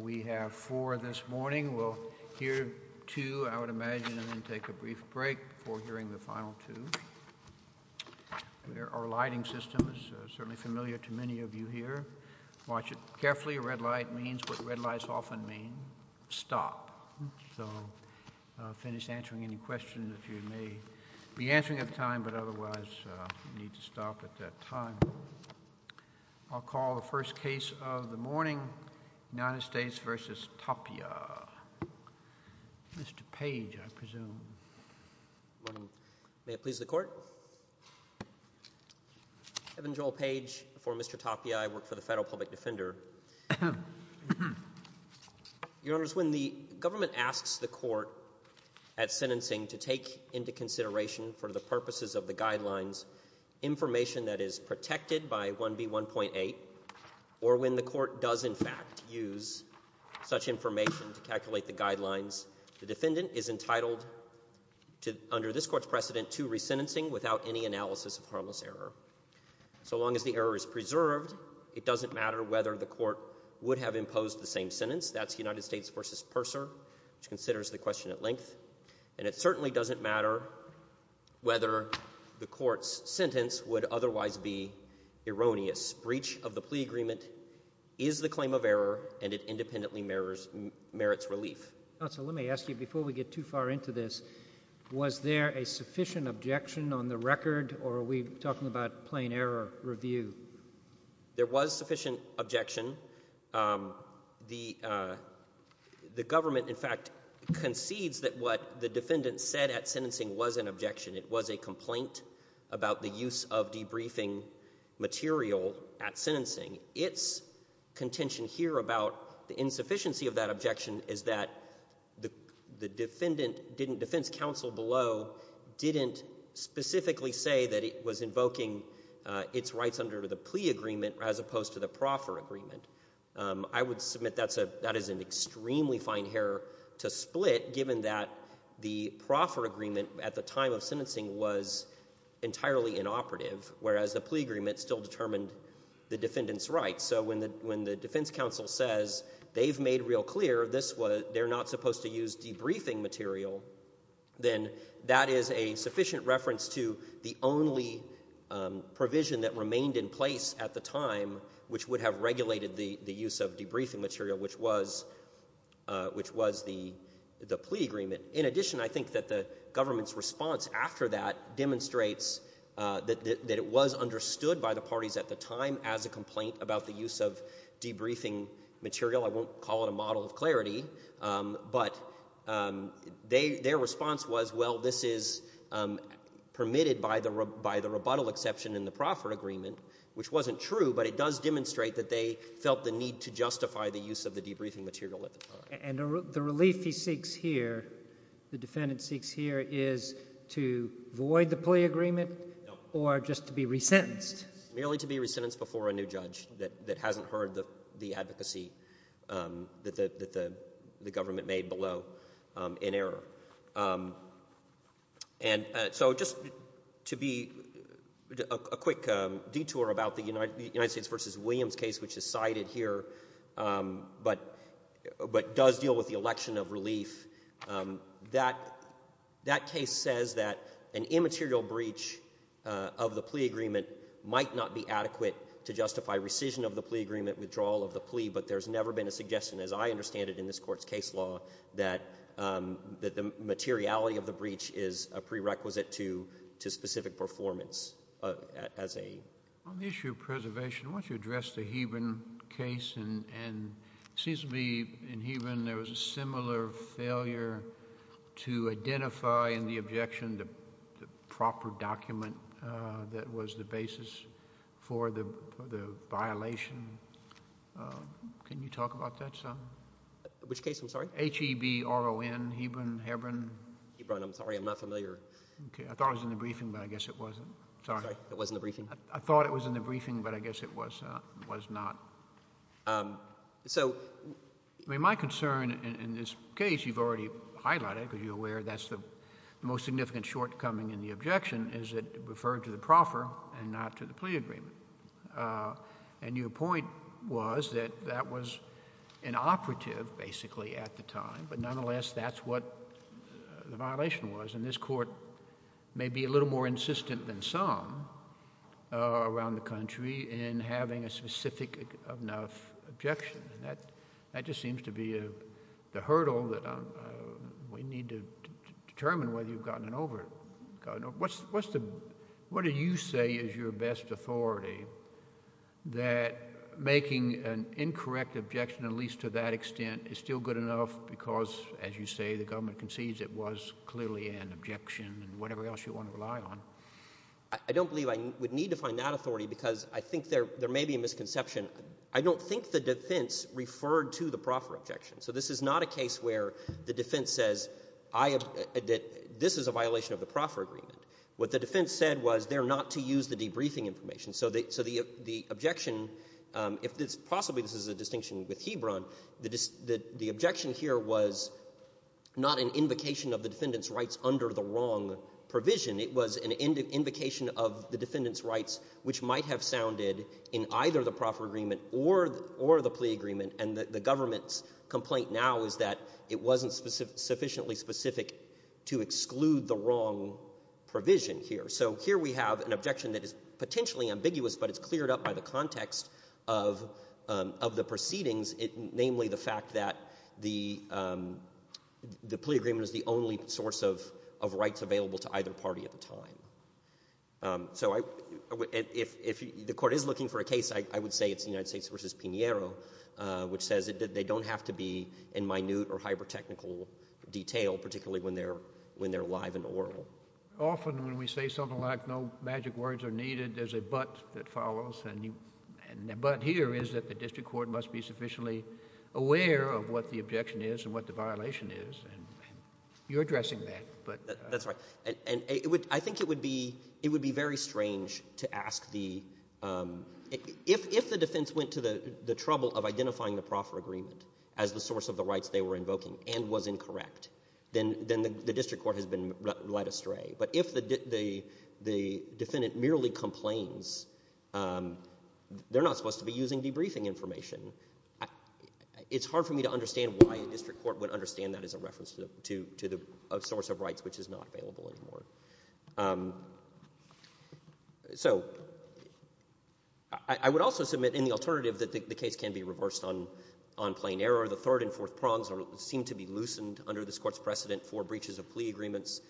We have four this morning. We'll hear two, I would imagine, and then take a brief break before hearing the final two. Our lighting system is certainly familiar to many of you here. Watch it carefully. Red light means what red lights often mean, stop. So finish answering any questions that you may be answering at the time, but otherwise you need to stop at that time. I'll call the first case of the morning, United States v. Tapia. Mr. Page, I presume. May it please the Court? Evan Joel Page for Mr. Tapia. I work for the Federal Public Defender. Your Honors, when the government asks the Court at sentencing to take into consideration for the purposes of the Guidelines, information that is protected by 1B1.8, or when the Court does in fact use such information to calculate the Guidelines, the defendant is entitled to, under this Court's precedent, to re-sentencing without any analysis of harmless error. So long as the error is preserved, it doesn't matter whether the Court would have imposed the same sentence. That's United States v. Purser, which considers the question at length. And it certainly doesn't matter whether the Court's sentence would otherwise be erroneous. Breach of the plea agreement is the claim of error, and it independently merits relief. Counsel, let me ask you, before we get too far into this, was there a sufficient objection on the record, or are we talking about plain error review? There was sufficient objection. The government, in fact, concedes that what the defendant said at sentencing was an objection. It was a complaint about the use of debriefing material at sentencing. Its contention here about the insufficiency of that objection is that the defendant didn't, defense counsel below, didn't specifically say that it was invoking its rights under the plea agreement as opposed to the proffer agreement. I would submit that is an extremely fine error to split, given that the proffer agreement at the time of sentencing was entirely inoperative, whereas the plea agreement still determined the defendant's rights. So when the defense counsel says they've made real clear this was, they're not supposed to use debriefing material, then that is a sufficient reference to the only provision that remained in place at the time which would have regulated the use of debriefing material, which was the plea agreement. In addition, I think that the government's response after that demonstrates that it was understood by the parties at the time as a complaint about the use of debriefing material. I won't call it a model of clarity, but their response was, well, this is permitted by the rebuttal exception in the proffer agreement, which wasn't true, but it does demonstrate that they felt the need to justify the use of the debriefing material at the time. And the relief he seeks here, the defendant seeks here, is to void the plea agreement or just to be resentenced? Merely to be resentenced before a new judge that hasn't heard the advocacy that the government made below in error. And so just to be, a quick detour about the United States v. Williams case which is cited here, but does deal with the election of relief, that case says that an immaterial breach of the plea agreement might not be adequate to justify rescission of the plea agreement, withdrawal of the plea, but there's never been a suggestion, as I recall, that the materiality of the breach is a prerequisite to specific performance as a... On the issue of preservation, I want you to address the Heban case, and it seems to me in Heban there was a similar failure to identify in the objection the proper document that was the basis for the violation. Can you talk about that some? Which case, I'm sorry? H-E-B-R-O-N, Heban, Hebron? Hebron, I'm sorry, I'm not familiar. Okay. I thought it was in the briefing, but I guess it wasn't. Sorry. Sorry, it was in the briefing. I thought it was in the briefing, but I guess it was not. So... I mean, my concern in this case, you've already highlighted, because you're aware that's the most significant shortcoming in the objection, is it referred to the proffer and not to the defense? I don't believe I would need to find that authority because I think there may be a misconception. I don't think the defense referred to the proffer objection. So this is not a case where the defense says, this is a violation of the proffer agreement. What the defense said was they're not to use the debriefing information. So the objection, possibly this is a distinction with Hebron, the objection here was not an invocation of the defendant's rights under the wrong provision. It was an invocation of the defendant's rights which might have sounded in either the proffer agreement or the plea agreement, and the government's complaint now is that it wasn't sufficiently specific to exclude the wrong provision here. So here we have an objection that is potentially ambiguous, but it's cleared up by the context of the proceedings, namely the fact that the plea agreement is the only source of rights available to either party at the time. So if the court is looking for a case, I would say it's the United States v. Pinheiro, which says that they don't have to be in minute or hyper-technical detail, particularly when they're live and oral. Often when we say something like no magic words are needed, there's a but that follows and the but here is that the district court must be sufficiently aware of what the objection is and what the violation is, and you're addressing that. That's right, and I think it would be very strange to ask the, if the defense went to the trouble of identifying the proffer agreement as the source of the rights they were invoking and was incorrect, then the district court has been led astray. But if the defendant merely complains, they're not supposed to be using debriefing information. It's hard for me to understand why a district court would understand that as a reference to the source of rights which is not available anymore. So I would also submit in the alternative that the case can be reversed on plain error. The third and fourth prongs seem to be loosened under this Court's precedent for breaches of plea agreements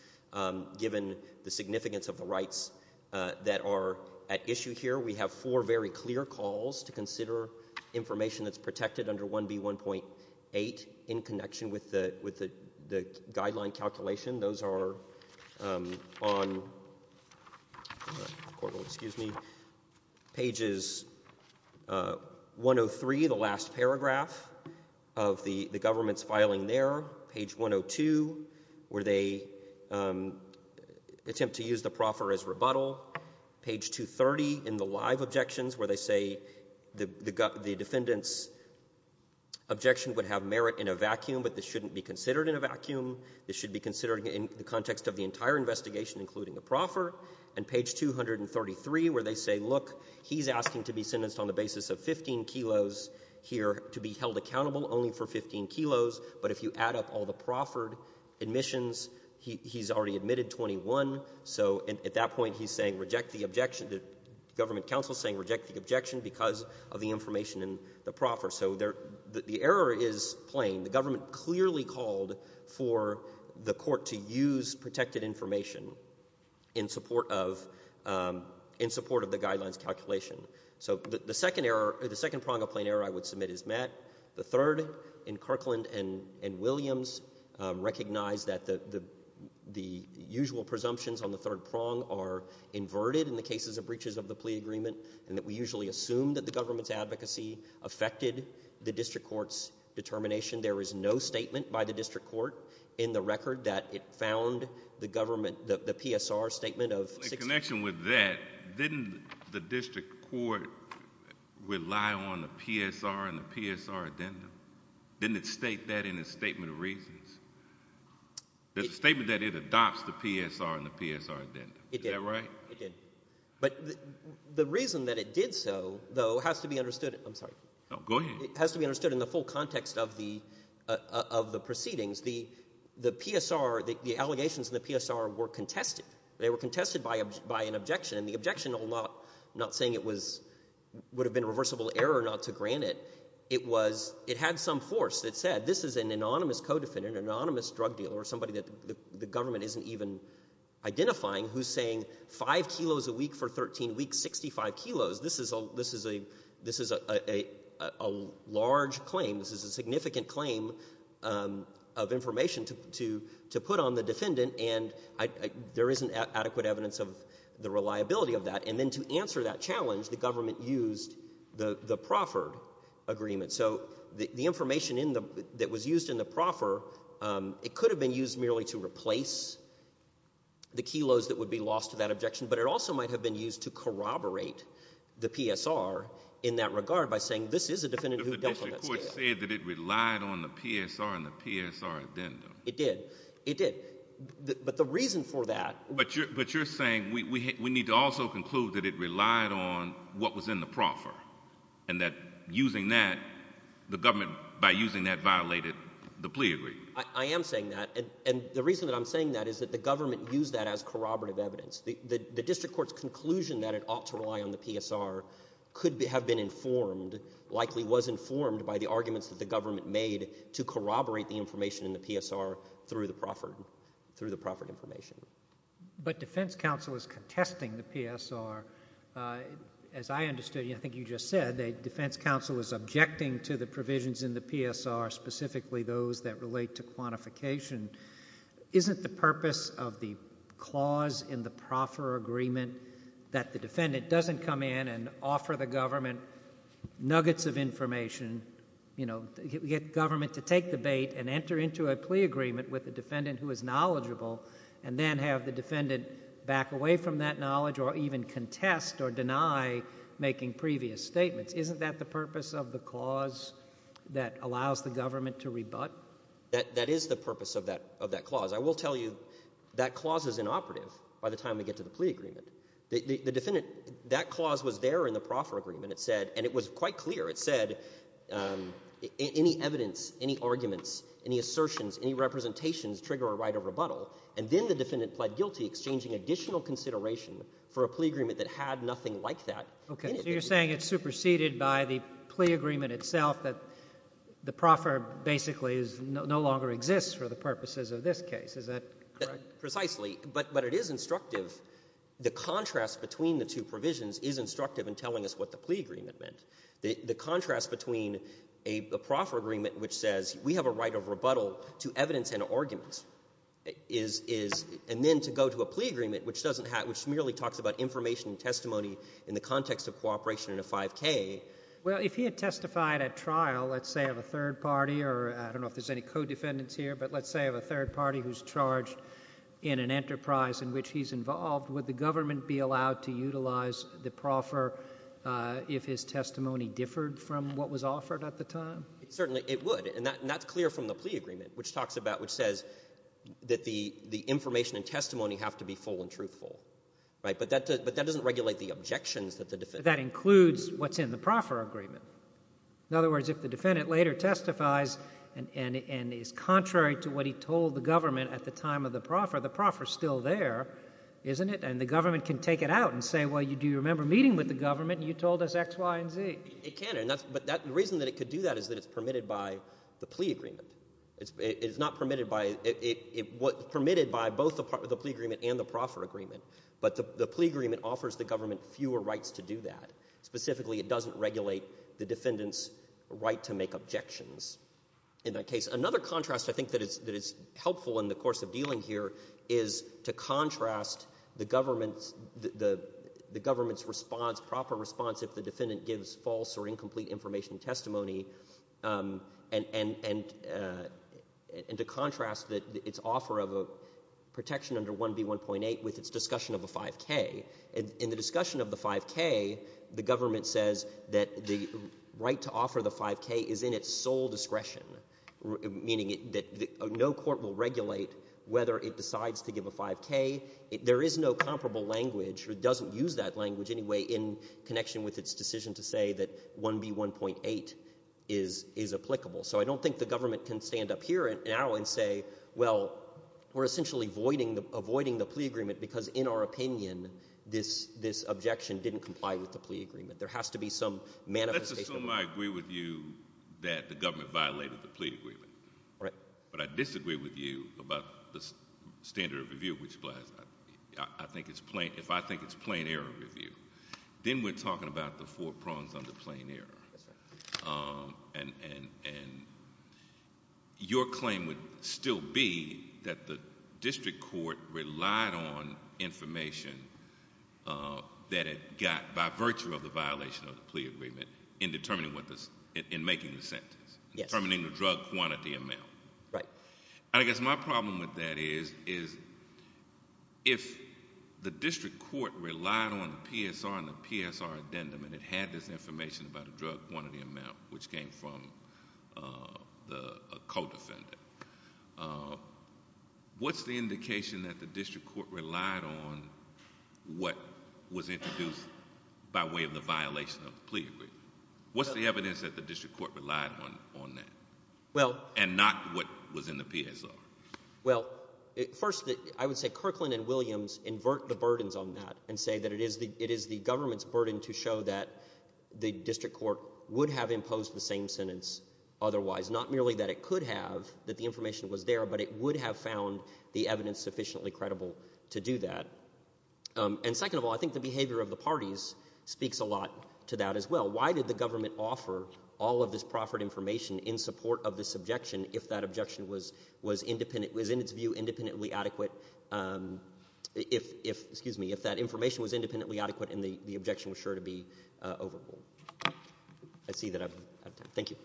given the significance of the rights that are at issue here. We have four very clear calls to consider information that's protected under 1B1.8 in connection with the, with the, the guideline calculation. Those are on, excuse me, pages 103, the last where they attempt to use the proffer as rebuttal. Page 230 in the live objections where they say the defendant's objection would have merit in a vacuum, but this shouldn't be considered in a vacuum. This should be considered in the context of the entire investigation including the proffer. And page 233 where they say, look, he's asking to be sentenced on the basis of 15 kilos here to be held accountable only for 15 kilos, but if you add up all the proffered admissions, he, he's already admitted 21, so at that point he's saying reject the objection, the government counsel is saying reject the objection because of the information in the proffer. So there, the error is plain. The government clearly called for the Court to use protected information in support of, in support of the guidelines calculation. So the second error, the second prong of plain error I would submit is met. The third in Kirkland and, and Williams recognized that the, the, the usual presumptions on the third prong are inverted in the cases of breaches of the plea agreement and that we usually assume that the government's advocacy affected the district court's determination. There is no statement by the district court in the record that it found the government, the, the PSR statement of 16. In connection with that, didn't the district court rely on the PSR addendum? Didn't it state that in its statement of reasons? There's a statement that it adopts the PSR and the PSR addendum. Is that right? It did. It did. But the reason that it did so, though, has to be understood, I'm sorry. No, go ahead. It has to be understood in the full context of the, of the proceedings. The, the PSR, the, the allegations in the PSR were contested. They were contested by, by an objection and the objection will not, not saying it was, would have been a reversible error not to grant it. It was, it had some force that said this is an anonymous co-defendant, an anonymous drug dealer or somebody that the government isn't even identifying who's saying five kilos a week for 13 weeks, 65 kilos. This is a, this is a, this is a, a, a, a large claim. This is a significant claim of information to, to, to put on the defendant and I, I, there isn't adequate evidence of the reliability of that and then to answer that challenge, the government used the, the proffered agreement. So the, the information in the, that was used in the proffer, it could have been used merely to replace the kilos that would be lost to that objection but it also might have been used to corroborate the PSR in that regard by saying this is a defendant who dealt on that scale. But the district court said that it relied on the PSR and the PSR addendum. It did. It did. But the reason for that. But you're, but you're saying we, we need to also conclude that it relied on what was in the proffer and that using that, the government by using that violated the plea agreement. I, I am saying that and, and the reason that I'm saying that is that the government used that as corroborative evidence. The, the, the district court's conclusion that it ought to rely on the PSR could be, have been informed, likely was informed by the arguments that the government made to corroborate the information in the PSR through the proffered, through the proffered information. But defense counsel is contesting the PSR. As I understood, I think you just said, that defense counsel is objecting to the provisions in the PSR, specifically those that relate to quantification. Isn't the purpose of the clause in the proffer agreement that the defendant doesn't come in and offer the government nuggets of information, you know, get, get government to take the bait and enter into a plea agreement with a defendant who is knowledgeable and then have the defendant back away from that knowledge or even contest or deny making previous statements? Isn't that the purpose of the clause that allows the government to rebut? That is the purpose of that, of that clause. I will tell you that clause is inoperative by the time we get to the plea agreement. The, the, the defendant, that clause was there in the proffer agreement. It said, and it was quite clear, it said, um, any evidence, any arguments, any assertions, any representations trigger a right of rebuttal. And then the defendant pled guilty, exchanging additional consideration for a plea agreement that had nothing like that. Okay. So you're saying it's superseded by the plea agreement itself, that the proffer basically is no, no longer exists for the purposes of this case. Is that correct? Precisely. But, but it is instructive. The contrast between the two provisions is instructive in telling us what the plea agreement meant. The, the contrast between a, a proffer agreement which says we have a right of rebuttal to evidence and arguments is, is, and then to go to a plea agreement which doesn't have, which merely talks about information and testimony in the context of cooperation in a 5K. Well if he had testified at trial, let's say of a third party, or I don't know if there's any co-defendants here, but let's say of a third party who's charged in an enterprise in which he's involved, would the government be allowed to utilize the proffer, uh, if his testimony differed from what was offered at the time? Certainly it would. And that, and that's clear from the plea agreement, which talks about, which says that the, the information and testimony have to be full and truthful, right? But that, but that doesn't regulate the objections that the defendant... That includes what's in the proffer agreement. In other words, if the defendant later testifies and, and, and is contrary to what he told the government at the time of the proffer, the proffer's still there, isn't it? And the government can take it out and say, well, you, do you remember meeting with the government and you told us X, Y, and Z? It can, it can. And that's, but that, the reason that it could do that is that it's permitted by the plea agreement. It's, it's not permitted by, it, it, it, what, permitted by both the part of the plea agreement and the proffer agreement. But the, the plea agreement offers the government fewer rights to do that. Specifically, it doesn't regulate the defendant's right to make objections. In that case, another contrast I think that it's, that it's helpful in the course of dealing here is to contrast the government's, the, the, the government's response, proper response if the defendant gives false or incomplete information testimony and, and, and, and to contrast that, its offer of a protection under 1B1.8 with its discussion of a 5K. In, in the discussion of the 5K, the government says that the right to offer the 5K is in its sole discretion, meaning it, that no court will regulate whether it decides to give a 5K. There is no comparable language, or it doesn't use that language anyway in connection with its decision to say that 1B1.8 is, is applicable. So I don't think the government can stand up here and now and say, well, we're essentially voiding the, avoiding the plea agreement because in our opinion, this, this objection didn't comply with the plea agreement. There has to be some manifestation of that. Let's assume I agree with you that the government violated the plea agreement. Right. But I disagree with you about the standard of review which applies. I, I think it's plain, if I think it's plain error review, then we're talking about the four prongs under plain error and, and, and your claim would still be that the district court relied on information that it got by virtue of the violation of the plea agreement in determining what this, in making the sentence, determining the drug quantity amount. Right. I guess my problem with that is, is if the district court relied on the PSR and the PSR addendum and it had this information about the drug quantity amount, which came from the, a co-defendant, what's the indication that the district court relied on what was introduced by way of the violation of the plea agreement? What's the evidence that the district court relied on, on that? Well... And not what was in the PSR. Well, first, I would say Kirkland and Williams invert the burdens on that and say that it is the, it is the government's burden to show that the district court would have imposed the same sentence otherwise, not merely that it could have, that the information was there, but it would have found the evidence sufficiently credible to do that. And second of all, I think the behavior of the parties speaks a lot to that as well. Why did the government offer all of this proffered information in support of this objection if that objection was, was independent, was in its view independently adequate, if, if, excuse me, if that information was independently adequate and the, the objection was sure to be overruled? I see that I'm out of time.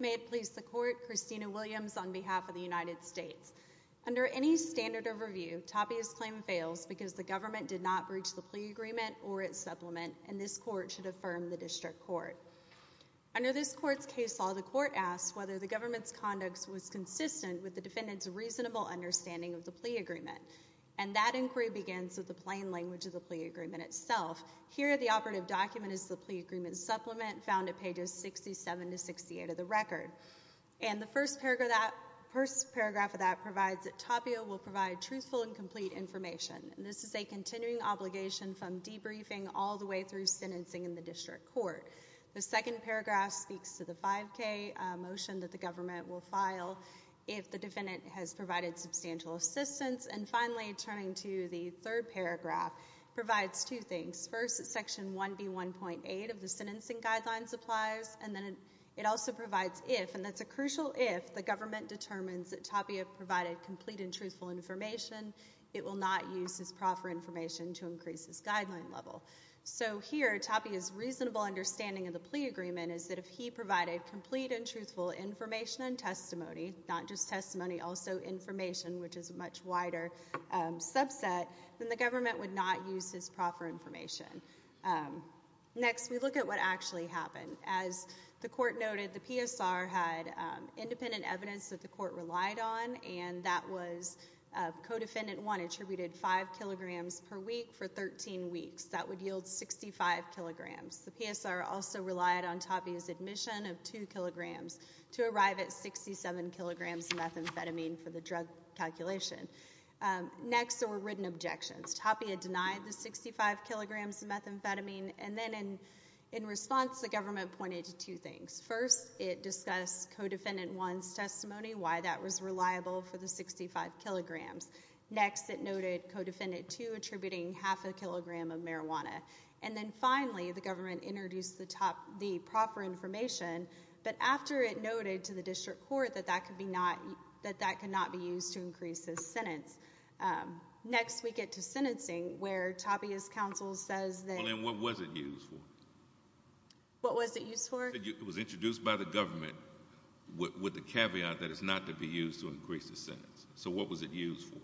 May it please the court, Christina Williams on behalf of the United States. Under any standard of review, Tapia's claim fails because the government did not breach the plea agreement or its supplement and this court should affirm the district court. Under this court's case law, the court asks whether the government's conduct was consistent with the defendant's reasonable understanding of the plea agreement. And that inquiry begins with the plain language of the plea agreement itself. Here the operative document is the plea agreement supplement found at pages 67 to 68 of the record. And the first paragraph of that provides that Tapia will provide truthful and complete information. This is a continuing obligation from debriefing all the way through sentencing in the district court. The second paragraph speaks to the 5K motion that the government will file if the defendant has provided substantial assistance. And finally, turning to the third paragraph, provides two things. First, section 1B1.8 of the sentencing guidelines applies. And then it also provides if, and that's a crucial if, the government determines that Tapia provided complete and truthful information. It will not use his proper information to increase his guideline level. So here, Tapia's reasonable understanding of the plea agreement is that if he provided complete and truthful information and testimony, not just testimony, also information, which is a much wider subset, then the government would not use his proper information. Next, we look at what actually happened. As the court noted, the PSR had independent evidence that the court relied on, and that was Codefendant 1 attributed 5 kilograms per week for 13 weeks. That would yield 65 kilograms. The PSR also used admission of 2 kilograms to arrive at 67 kilograms of methamphetamine for the drug calculation. Next, there were written objections. Tapia denied the 65 kilograms of methamphetamine. And then in response, the government pointed to two things. First, it discussed Codefendant 1's testimony, why that was reliable for the 65 kilograms. Next, it noted Codefendant 2 attributing half a kilogram of marijuana. And then finally, the government introduced the proper information, but after it noted to the district court that that could not be used to increase his sentence. Next, we get to sentencing, where Tapia's counsel says that... Well, and what was it used for? What was it used for? It was introduced by the government with the caveat that it's not to be used to increase the sentence. So what was it used for?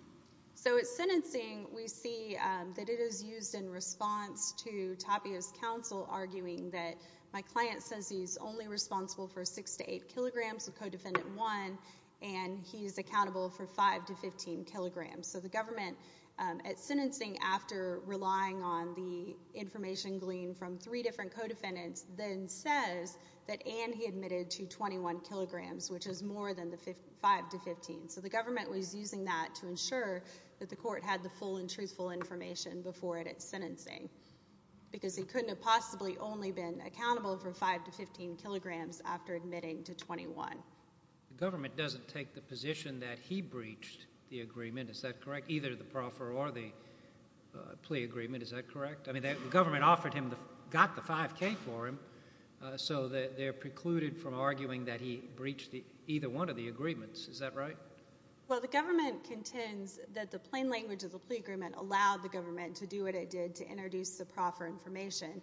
So at sentencing, we see that it is used in response to Tapia's counsel arguing that my client says he's only responsible for 6 to 8 kilograms of Codefendant 1, and he's accountable for 5 to 15 kilograms. So the government, at sentencing, after relying on the information gleaned from three different codefendants, then says that and he admitted to 21 kilograms, which is more than the 5 to 15. So the government was using that to ensure that the court had the full and truthful information before it at sentencing, because he couldn't have possibly only been accountable for 5 to 15 kilograms after admitting to 21. The government doesn't take the position that he breached the agreement, is that correct? Either the proffer or the plea agreement, is that correct? I mean, the government offered him, got the 5K for him, so they're precluded from arguing that he breached either one of the agreements, is that right? Well, the government contends that the plain language of the plea agreement allowed the government to do what it did to introduce the proffer information,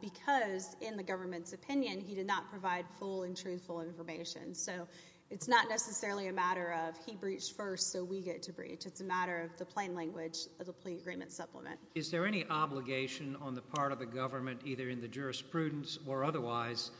because in the government's opinion, he did not provide full and truthful information. So it's not necessarily a matter of he breached first, so we get to breach. It's a matter of the plain language of the plea agreement supplement. Is there any obligation on the part of the government, either in the jurisprudence or otherwise,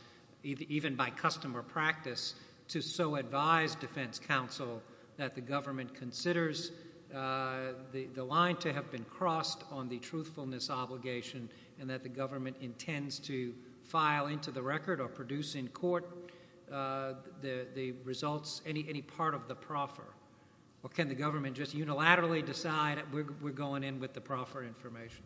even by custom or practice, to so advise defense counsel that the government considers the line to have been crossed on the truthfulness obligation, and that the government intends to file into the record or produce in court the results, any part of the proffer? Or can the government just unilaterally decide that we're going in with the proffer information?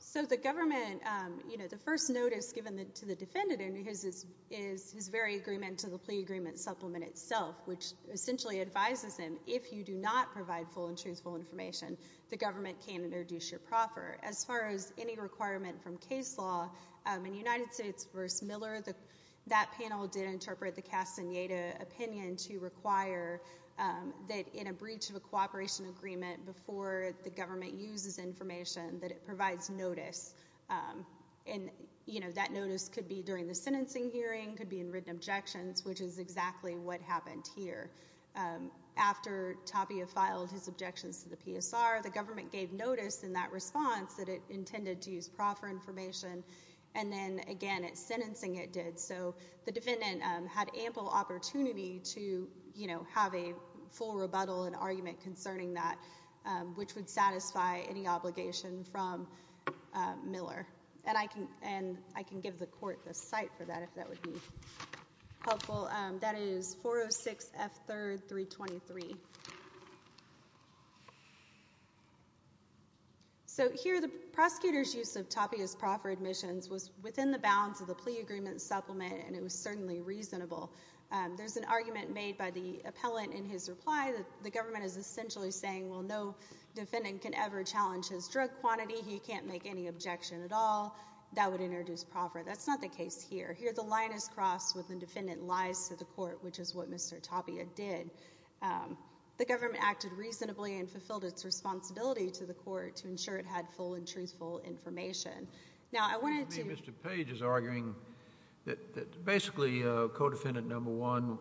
So the government, you know, the first notice given to the defendant is his very agreement to the plea agreement supplement itself, which essentially advises him, if you do not provide full and truthful information, the government can introduce your proffer. As far as any requirement from case law, in United States v. Miller, that panel did interpret the Castaneda opinion to require that in a breach of a cooperation agreement before the government uses information, that it provides notice. And, you know, that notice could be during the sentencing hearing, could be in written objections, which is exactly what happened here. After Tapia filed his objections to the PSR, the government gave notice in that response that it intended to use proffer information, and then again at sentencing it did. So the defendant had ample opportunity to, you know, have a full rebuttal and argument concerning that, which would satisfy any obligation from Miller. And I can give the court the cite for that, if that would be helpful. That is 406 F. 3rd. 323. So here the prosecutor's use of Tapia's proffer admissions was within the bounds of the plea agreement supplement, and it was certainly reasonable. There's an argument made by the appellant in his reply that the government is essentially saying, well, no defendant can ever challenge his drug quantity. He can't make any objection at all. That would introduce proffer. That's not the case here. Here the line is crossed when the defendant lies to the court, which is what Mr. Tapia did. The government acted reasonably and fulfilled its responsibility to the court to ensure it had full and truthful information. Now, I wanted to... Mr. Page is arguing that basically co-defendant number one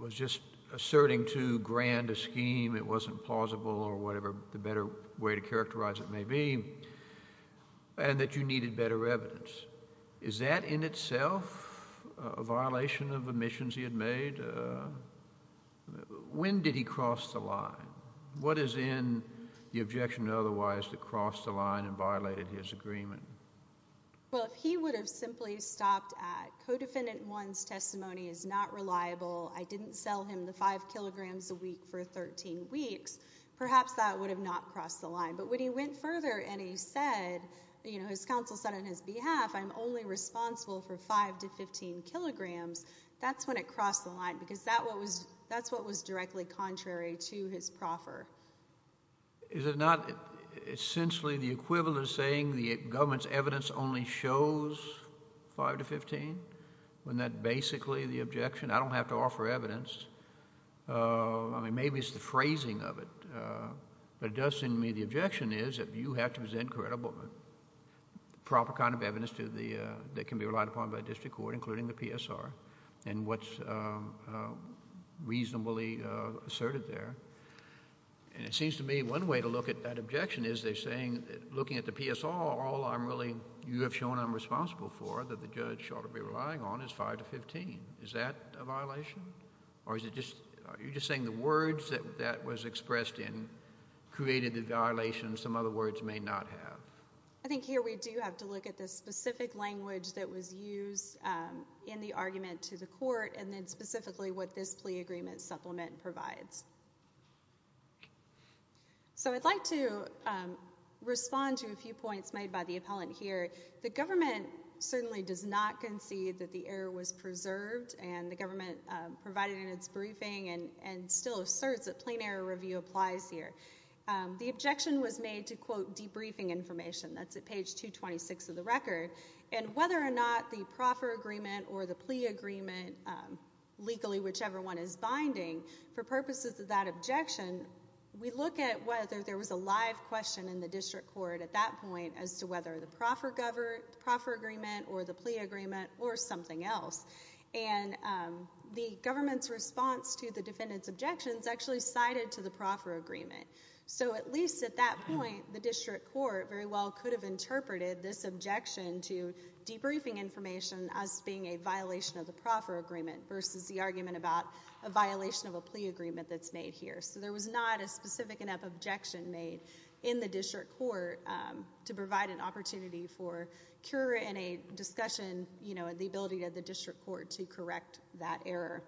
was just asserting to grand a scheme, it wasn't plausible or whatever the better way to characterize it may be, and that you needed better evidence. Is that in itself a violation of admissions he had made? When did he cross the line? What is in the objection otherwise that crossed the line and violated his agreement? Well, if he would have simply stopped at co-defendant one's testimony is not reliable, I didn't sell him the five kilograms a week for 13 weeks, perhaps that would have not crossed the line. But when he went further and he said, you know, his counsel said on his behalf, I'm only responsible for five to 15 kilograms, that's when it crossed the line because that's what was directly contrary to his proffer. Is it not essentially the equivalent of saying the government's evidence only shows five to 15? Isn't that basically the objection? I don't have to offer evidence. I mean, maybe it's the phrasing of it, but it does seem to me the objection is that you have to present credible, proper kind of evidence to the... that can be relied upon by district court, including the PSR, and what's reasonably asserted there. And it seems to me one way to look at that objection is they're saying, looking at the PSR, all I'm really... you have shown I'm responsible for, that the judge ought to be relying on is five to 15. Is that a violation? Or is it just... are you just saying the words that that was expressed in created the violation some other words may not have? I think here we do have to look at the specific language that was used in the argument to the court, and then specifically what this plea agreement supplement provides. So I'd like to respond to a few points made by the appellant here. The government certainly does not concede that the error was preserved, and the government provided in its briefing and still asserts that plain error review applies here. The objection was made to quote briefing information. That's at page 226 of the record. And whether or not the proffer agreement or the plea agreement, legally whichever one is binding, for purposes of that objection, we look at whether there was a live question in the district court at that point as to whether the proffer agreement or the plea agreement or something else. And the government's response to the defendant's objections actually cited to the proffer agreement. So at least at that point, the district court very well could have interpreted this objection to debriefing information as being a violation of the proffer agreement versus the argument about a violation of a plea agreement that's made here. So there was not a specific enough objection made in the district court to provide an opportunity for cure in a discussion, you know, the ability of the district court to correct that error.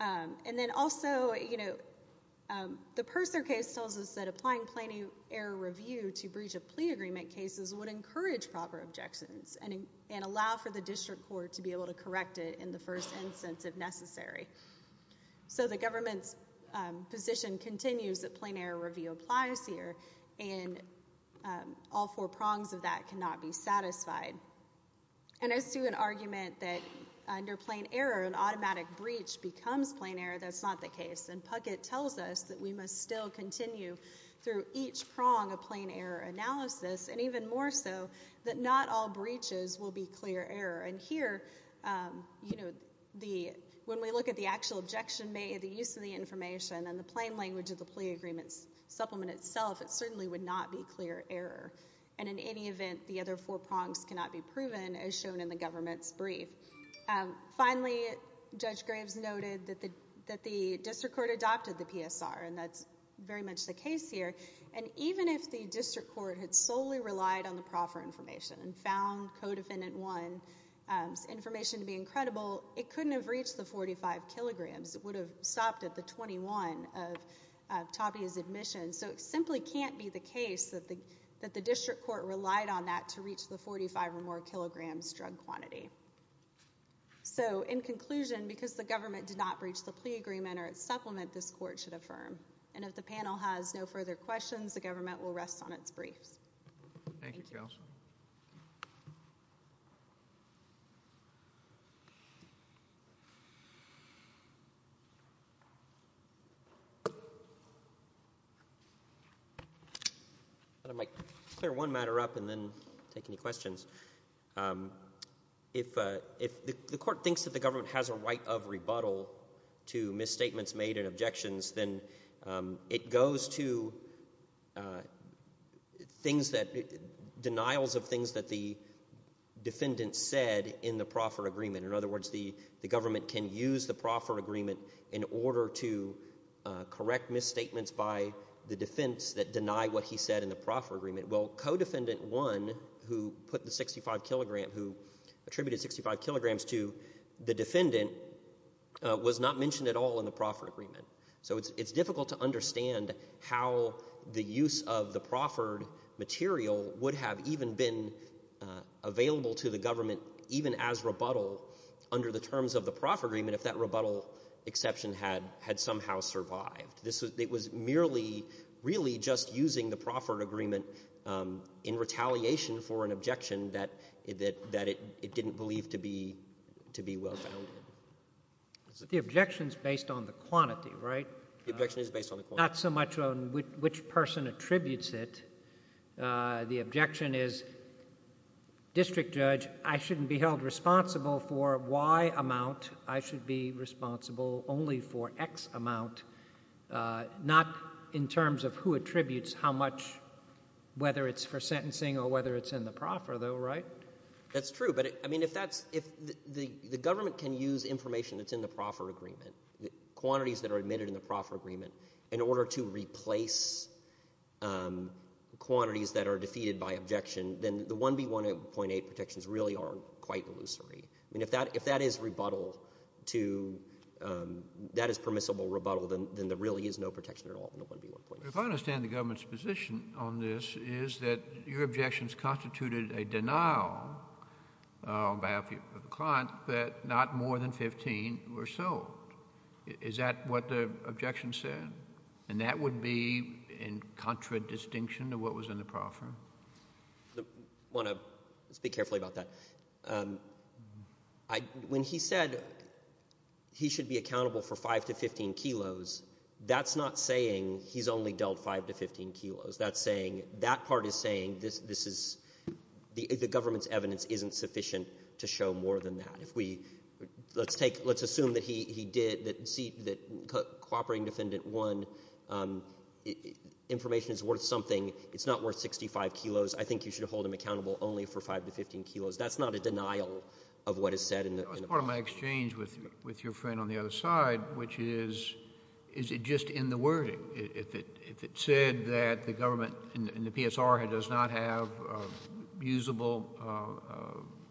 And then also, you know, the Purser case tells us that applying plain error review to breach of plea agreement cases would encourage proper objections and allow for the district court to be able to correct it in the first instance if necessary. So the government's position continues that plain error review applies here, and all four prongs of that cannot be satisfied. And as to an argument that under plain error, an automatic breach becomes plain error, that's not the case. The government tells us that we must still continue through each prong of plain error analysis, and even more so, that not all breaches will be clear error. And here, you know, when we look at the actual objection made, the use of the information and the plain language of the plea agreement's supplement itself, it certainly would not be clear error. And in any event, the other four prongs cannot be proven, as shown in the government's brief. Finally, Judge Graves noted that the district court adopted the PSR, and that's very much the case here. And even if the district court had solely relied on the proffer information and found Codefendant 1's information to be incredible, it couldn't have reached the 45 kilograms. It would have stopped at the 21 of Tabea's admission. So it simply can't be the case that the district court relied on that to reach the 45 or more kilograms drug quantity. So, in conclusion, because the government did not breach the plea agreement or its supplement, this court should affirm. And if the panel has no further questions, the government will rest on its briefs. Thank you, counsel. I thought I might clear one matter up and then take any questions. If the court thinks that the government has a right of rebuttal to misstatements made and objections, then it goes to denials of things that the defendant said in the proffer agreement. In other words, the government can use the proffer agreement in order to correct misstatements by the defense that deny what he said in the proffer agreement. Well, Codefendant 1, who put the 65 kilograms, who attributed 65 kilograms to the defendant, was not mentioned at all in the proffer agreement. So it's difficult to understand how the use of the proffered material would have even been available to the government even as rebuttal under the terms of the proffer agreement if that rebuttal exception had somehow survived. It was merely really just using the proffered agreement in retaliation for an objection that it didn't believe to be well-founded. But the objection's based on the quantity, right? The objection is based on the quantity. Not so much on which person attributes it. The objection is, District Judge, I shouldn't be held responsible for Y amount. I should be responsible only for X amount, not in terms of who attributes how much, whether it's for sentencing or whether it's in the proffer agreement. Quantities that are admitted in the proffer agreement, in order to replace quantities that are defeated by objection, then the 1B1.8 protections really are quite illusory. I mean, if that is permissible rebuttal, then there really is no protection at all in the 1B1.8. If I understand the government's position on this is that your objections constituted a denial on behalf of the client that not more than 15 were sold. Is that what the objection said? And that would be in contradistinction to what was in the proffer? I want to speak carefully about that. When he said he should be accountable for 5 to 15 kilos, that's not saying he's only dealt 5 to 15 kilos. That part is saying this is the government's evidence isn't sufficient to show more than that. Let's assume that he did, that cooperating defendant 1, information is worth something. It's not worth 65 kilos. I think you should hold him accountable only for 5 to 15 kilos. That's not a denial of what is said in the proffer. That's part of my exchange with your friend on the other side, which is, is it just in the wording? If it said that the government in the PSR does not have usable,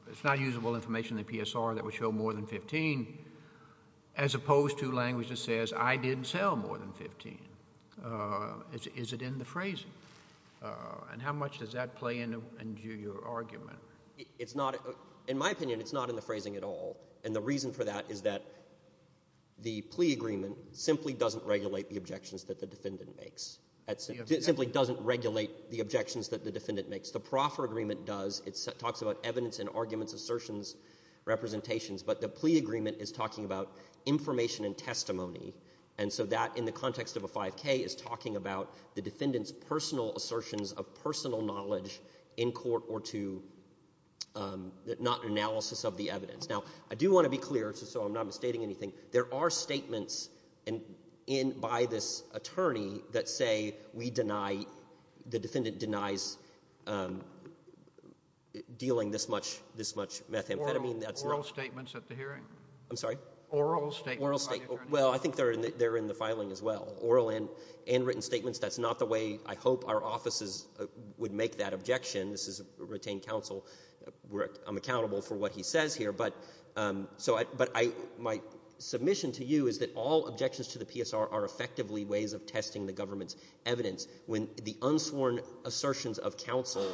it's not usable information in the PSR that would show more than 15, as opposed to language that says I didn't sell more than 15, is it in the phrasing? And how much does that play into your argument? It's not, in my opinion, it's not in the phrasing at all. And the reason for that is that the plea agreement simply doesn't regulate the objections that the defendant makes. It simply doesn't regulate the objections that the defendant makes. The proffer agreement does. It talks about evidence and arguments, assertions, representations. But the plea agreement is talking about information and testimony. And so that, in the context of a 5K, is talking about the defendant's personal assertions of personal knowledge in court or to not analysis of the evidence. Now, I do want to be clear, so I'm not misstating anything. There are statements and in by this attorney that say we deny, the defendant denies dealing this much methamphetamine. Oral statements at the hearing? I'm sorry? Oral statements by the attorney? Well, I think they're in the filing as well. Oral and written statements. That's not the way I hope our offices would make that objection. This is retained counsel. I'm accountable for what he says here. But my submission to you is that all objections to the PSR are effectively ways of testing the government's evidence. When the unsworn assertions of counsel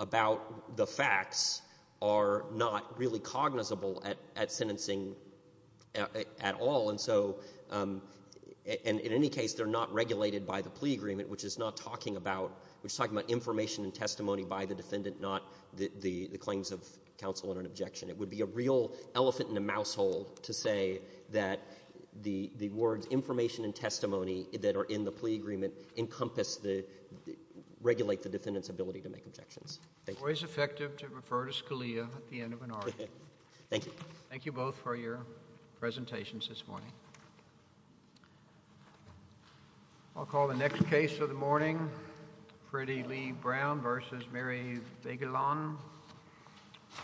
about the facts are not really cognizable at sentencing at all. And so, in any case, they're not regulated by the plea agreement, which is not talking about, which is talking about information and testimony by the defendant, not the claims of counsel and an objection. It would be a real elephant in a mouse hole to say that the words information and testimony that are in the plea agreement encompass the, regulate the defendant's ability to make objections. Always effective to refer to Scalia at the end of an argument. Thank you. Thank you both for your presentations this morning. I'll call the next case of the morning. Freddie Lee Brown versus Mary Vagelan.